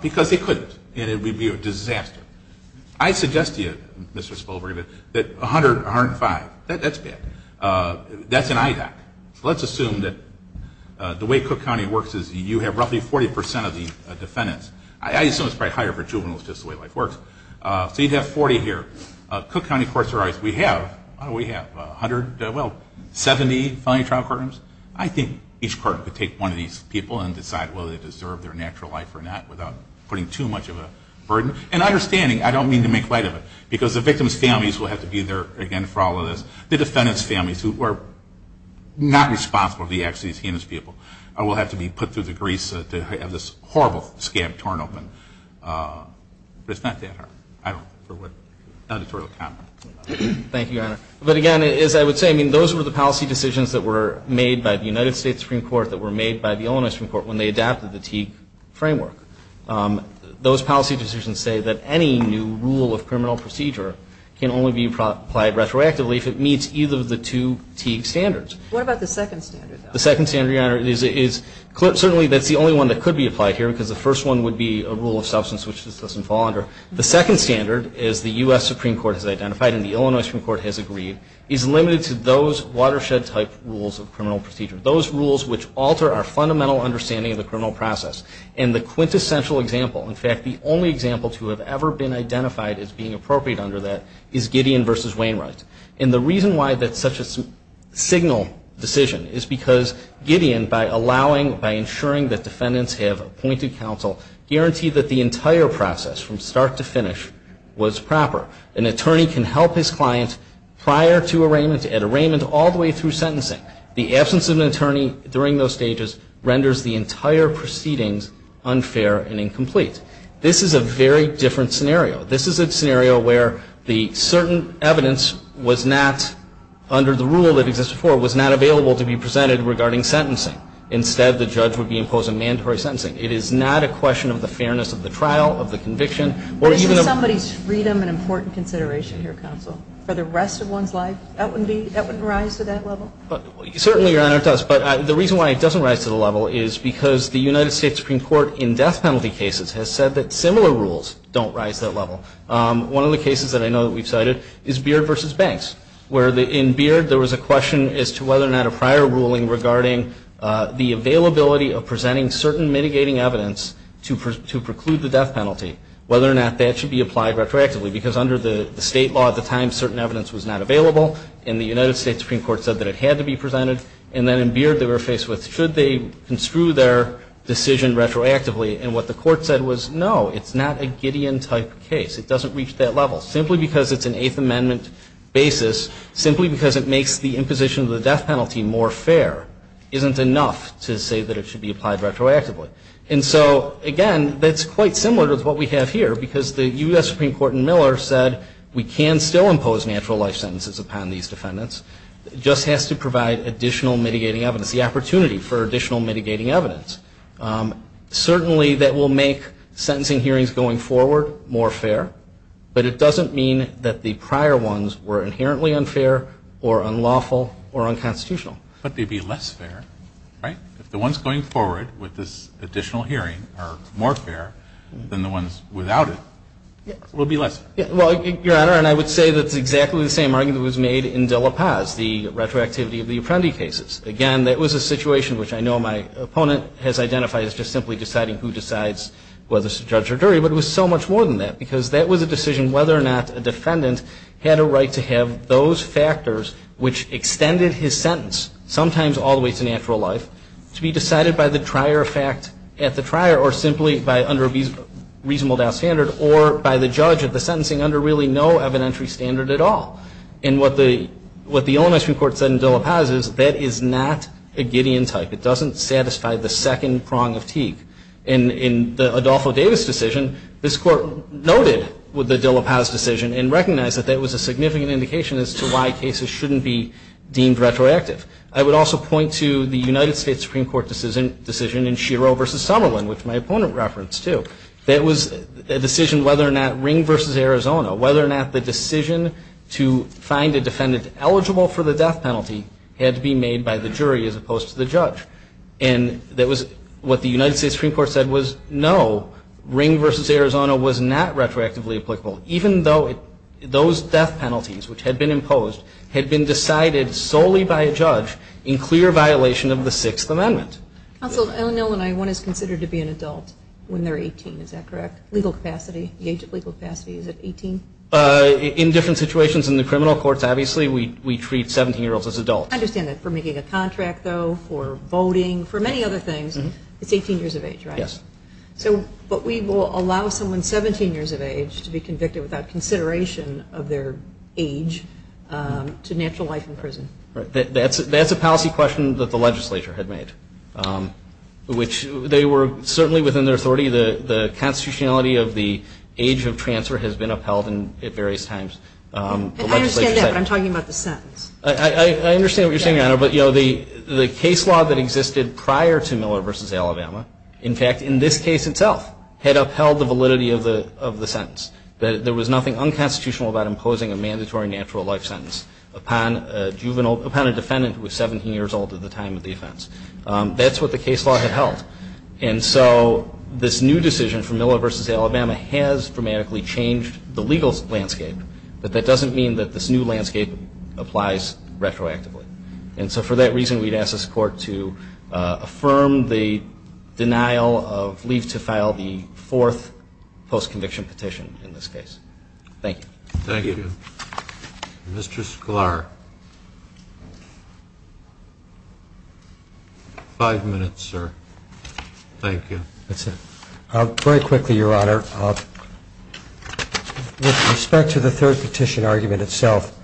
because they couldn't, and it would be a disaster. I suggest to you, Mr. Spilberg, that 100, 105, that's bad. That's an IDOC. Let's assume that the way Cook County works is you have roughly 40% of the defendants. I assume it's probably higher for juveniles just the way life works. So you'd have 40 here. Cook County courts are always, we have, oh, we have 100, well, 70 felony trial courtrooms. I think each court could take one of these people and decide whether they deserve their natural life or not without putting too much of a burden. And understanding, I don't mean to make light of it, because the victims' families will have to be there, again, for all of this. The defendants' families who were not responsible for the acts of these heinous people will have to be put through the grease of this horrible, scab-torn open. But it's not that hard. I don't know for what editorial comment. Thank you, Your Honor. But again, as I would say, I mean, those were the policy decisions that were made by the United States Supreme Court, that were made by the Illinois Supreme Court when they adapted the Teague framework. Those policy decisions say that any new rule of criminal procedure can only be applied retroactively if it meets either of the two Teague standards. What about the second standard, though? The second standard, Your Honor, is certainly that's the only one that could be applied here, because the first one would be a rule of substance, which this doesn't fall under. The second standard, as the U.S. Supreme Court has identified and the Illinois Supreme Court has agreed, is limited to those watershed-type rules of criminal procedure, those rules which alter our fundamental understanding of the criminal process and the quintessential example, in fact, the only example to have ever been identified as being appropriate under that is Gideon v. Wainwright. And the reason why that's such a signal decision is because Gideon, by allowing, by ensuring that defendants have appointed counsel, guaranteed that the entire process from start to finish was proper. An attorney can help his client prior to arraignment, at arraignment, all the way through sentencing. In fact, the absence of an attorney during those stages renders the entire proceedings unfair and incomplete. This is a very different scenario. This is a scenario where the certain evidence was not, under the rule that exists before, was not available to be presented regarding sentencing. Instead, the judge would be imposing mandatory sentencing. It is not a question of the fairness of the trial, of the conviction, or even of the ---- Isn't somebody's freedom an important consideration here, counsel, for the rest of one's life? That wouldn't rise to that level? Certainly, Your Honor, it does. But the reason why it doesn't rise to the level is because the United States Supreme Court, in death penalty cases, has said that similar rules don't rise to that level. One of the cases that I know that we've cited is Beard v. Banks, where in Beard there was a question as to whether or not a prior ruling regarding the availability of presenting certain mitigating evidence to preclude the death penalty, whether or not that should be applied retroactively, because under the state law at the time, certain evidence was not available, and the United States Supreme Court said that it had to be presented, and then in Beard they were faced with should they construe their decision retroactively, and what the court said was, no, it's not a Gideon-type case. It doesn't reach that level. Simply because it's an Eighth Amendment basis, simply because it makes the imposition of the death penalty more fair, isn't enough to say that it should be applied retroactively. And so, again, that's quite similar to what we have here, because the U.S. Supreme Court in Miller said we can still impose natural life sentences upon these defendants. It just has to provide additional mitigating evidence, the opportunity for additional mitigating evidence. Certainly that will make sentencing hearings going forward more fair, but it doesn't mean that the prior ones were inherently unfair or unlawful or unconstitutional. But they'd be less fair, right? If the ones going forward with this additional hearing are more fair than the ones without it, it will be less fair. Well, Your Honor, and I would say that's exactly the same argument that was made in De La Paz, the retroactivity of the Apprendi cases. Again, that was a situation which I know my opponent has identified as just simply deciding who decides whether it's a judge or jury, but it was so much more than that, because that was a decision whether or not a defendant had a right to have those to be decided by the trier of fact at the trier or simply by under a reasonable doubt standard or by the judge of the sentencing under really no evidentiary standard at all. And what the Illinois Supreme Court said in De La Paz is that is not a Gideon type. It doesn't satisfy the second prong of Teague. In the Adolfo Davis decision, this Court noted with the De La Paz decision and recognized that that was a significant indication as to why cases shouldn't be deemed retroactive. I would also point to the United States Supreme Court decision in Schiro v. Summerlin, which my opponent referenced, too. That was a decision whether or not Ring v. Arizona, whether or not the decision to find a defendant eligible for the death penalty had to be made by the jury as opposed to the judge. And that was what the United States Supreme Court said was no, Ring v. Arizona was not retroactively applicable, even though those death penalties, which had been imposed, had been decided solely by a judge in clear violation of the Sixth Amendment. Counsel, Illinois, one is considered to be an adult when they're 18, is that correct? Legal capacity, the age of legal capacity, is it 18? In different situations in the criminal courts, obviously, we treat 17-year-olds as adults. I understand that. For making a contract, though, for voting, for many other things, it's 18 years of age, right? Yes. But we will allow someone 17 years of age to be convicted without consideration of their age to natural life in prison. That's a policy question that the legislature had made, which they were certainly within their authority. The constitutionality of the age of transfer has been upheld at various times. I understand that, but I'm talking about the sentence. I understand what you're saying, Your Honor, but the case law that existed prior to Miller v. Alabama, in fact, in this case itself, had upheld the validity of the sentence, that there was nothing unconstitutional about imposing a mandatory natural life sentence upon a defendant who was 17 years old at the time of the offense. That's what the case law had held. And so this new decision from Miller v. Alabama has dramatically changed the legal landscape, but that doesn't mean that this new landscape applies retroactively. And so for that reason, we'd ask this Court to affirm the denial of leave to file the fourth post-conviction petition in this case. Thank you. Thank you. Mr. Sklar. Five minutes, sir. Thank you. That's it. Very quickly, Your Honor, with respect to the third petition argument itself,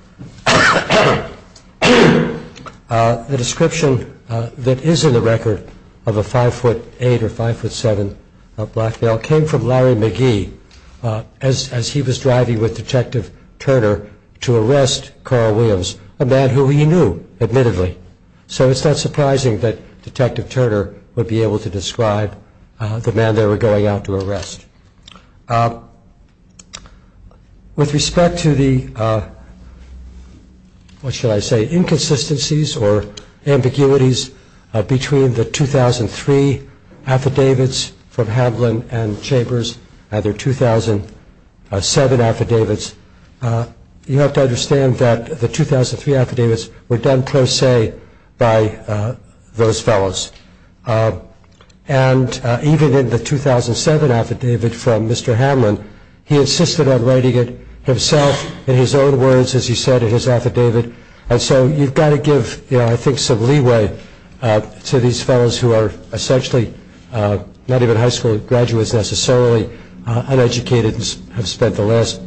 the description that is in the record of a 5'8 or 5'7 black male came from Larry McGee as he was driving with Detective Turner to arrest Carl Williams, a man who he knew, admittedly. So it's not surprising that Detective Turner would be able to describe the man they were going out to arrest. With respect to the, what should I say, inconsistencies or ambiguities between the 2003 affidavits from Hamlin and Chambers and their 2007 affidavits, you have to understand that the 2003 affidavits were done pro se by those fellows. And even in the 2007 affidavit from Mr. Hamlin, he insisted on writing it himself in his own words, as he said in his affidavit. And so you've got to give, I think, some leeway to these fellows who are essentially not even high school graduates necessarily, uneducated and have spent the last,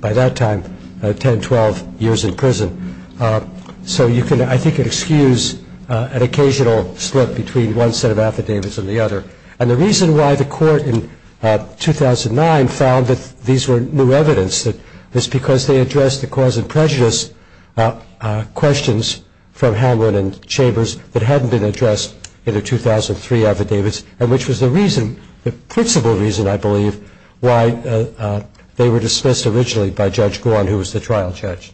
by that time, 10, 12 years in prison. So you can, I think, excuse an occasional slip between one set of affidavits and the other. And the reason why the court in 2009 found that these were new evidence is because they addressed the cause and prejudice questions from Hamlin and Chambers that hadn't been addressed in the 2003 affidavits, and which was the reason, the principal reason, I believe, why they were dismissed originally by Judge Gorn, who was the trial judge.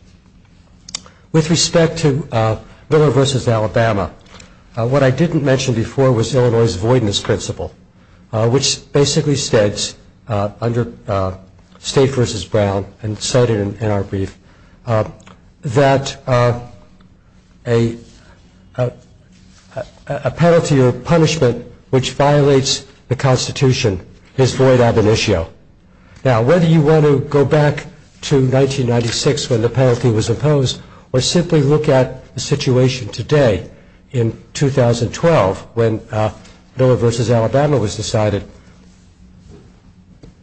With respect to Miller v. Alabama, what I didn't mention before was Illinois' voidness principle, which basically states under State v. Brown, and cited in our brief, that a penalty or punishment which violates the Constitution is void ab initio. Now, whether you want to go back to 1996 when the penalty was imposed, or simply look at the situation today in 2012 when Miller v. Alabama was decided,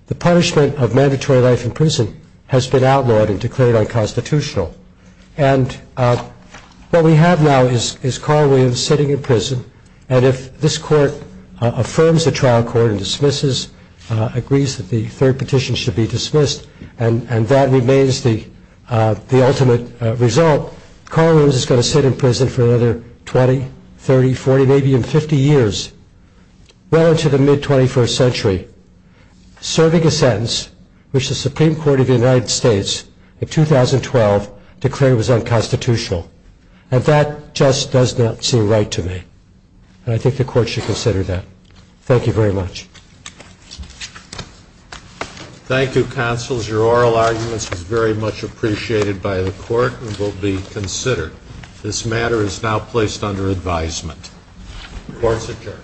the punishment of mandatory life in prison has been outlawed and declared unconstitutional. And what we have now is Carl Williams sitting in prison, and if this court affirms the trial court and dismisses, agrees that the third petition should be dismissed, and that remains the ultimate result, Carl Williams is going to sit in prison for another 20, 30, 40, maybe even 50 years, well into the mid-21st century, serving a sentence which the Supreme Court of the United States in 2012 declared was unconstitutional. And that just does not seem right to me. And I think the court should consider that. Thank you very much. Thank you, counsels. Your oral arguments were very much appreciated by the court and will be considered. This matter is now placed under advisement. The court is adjourned. Thank you.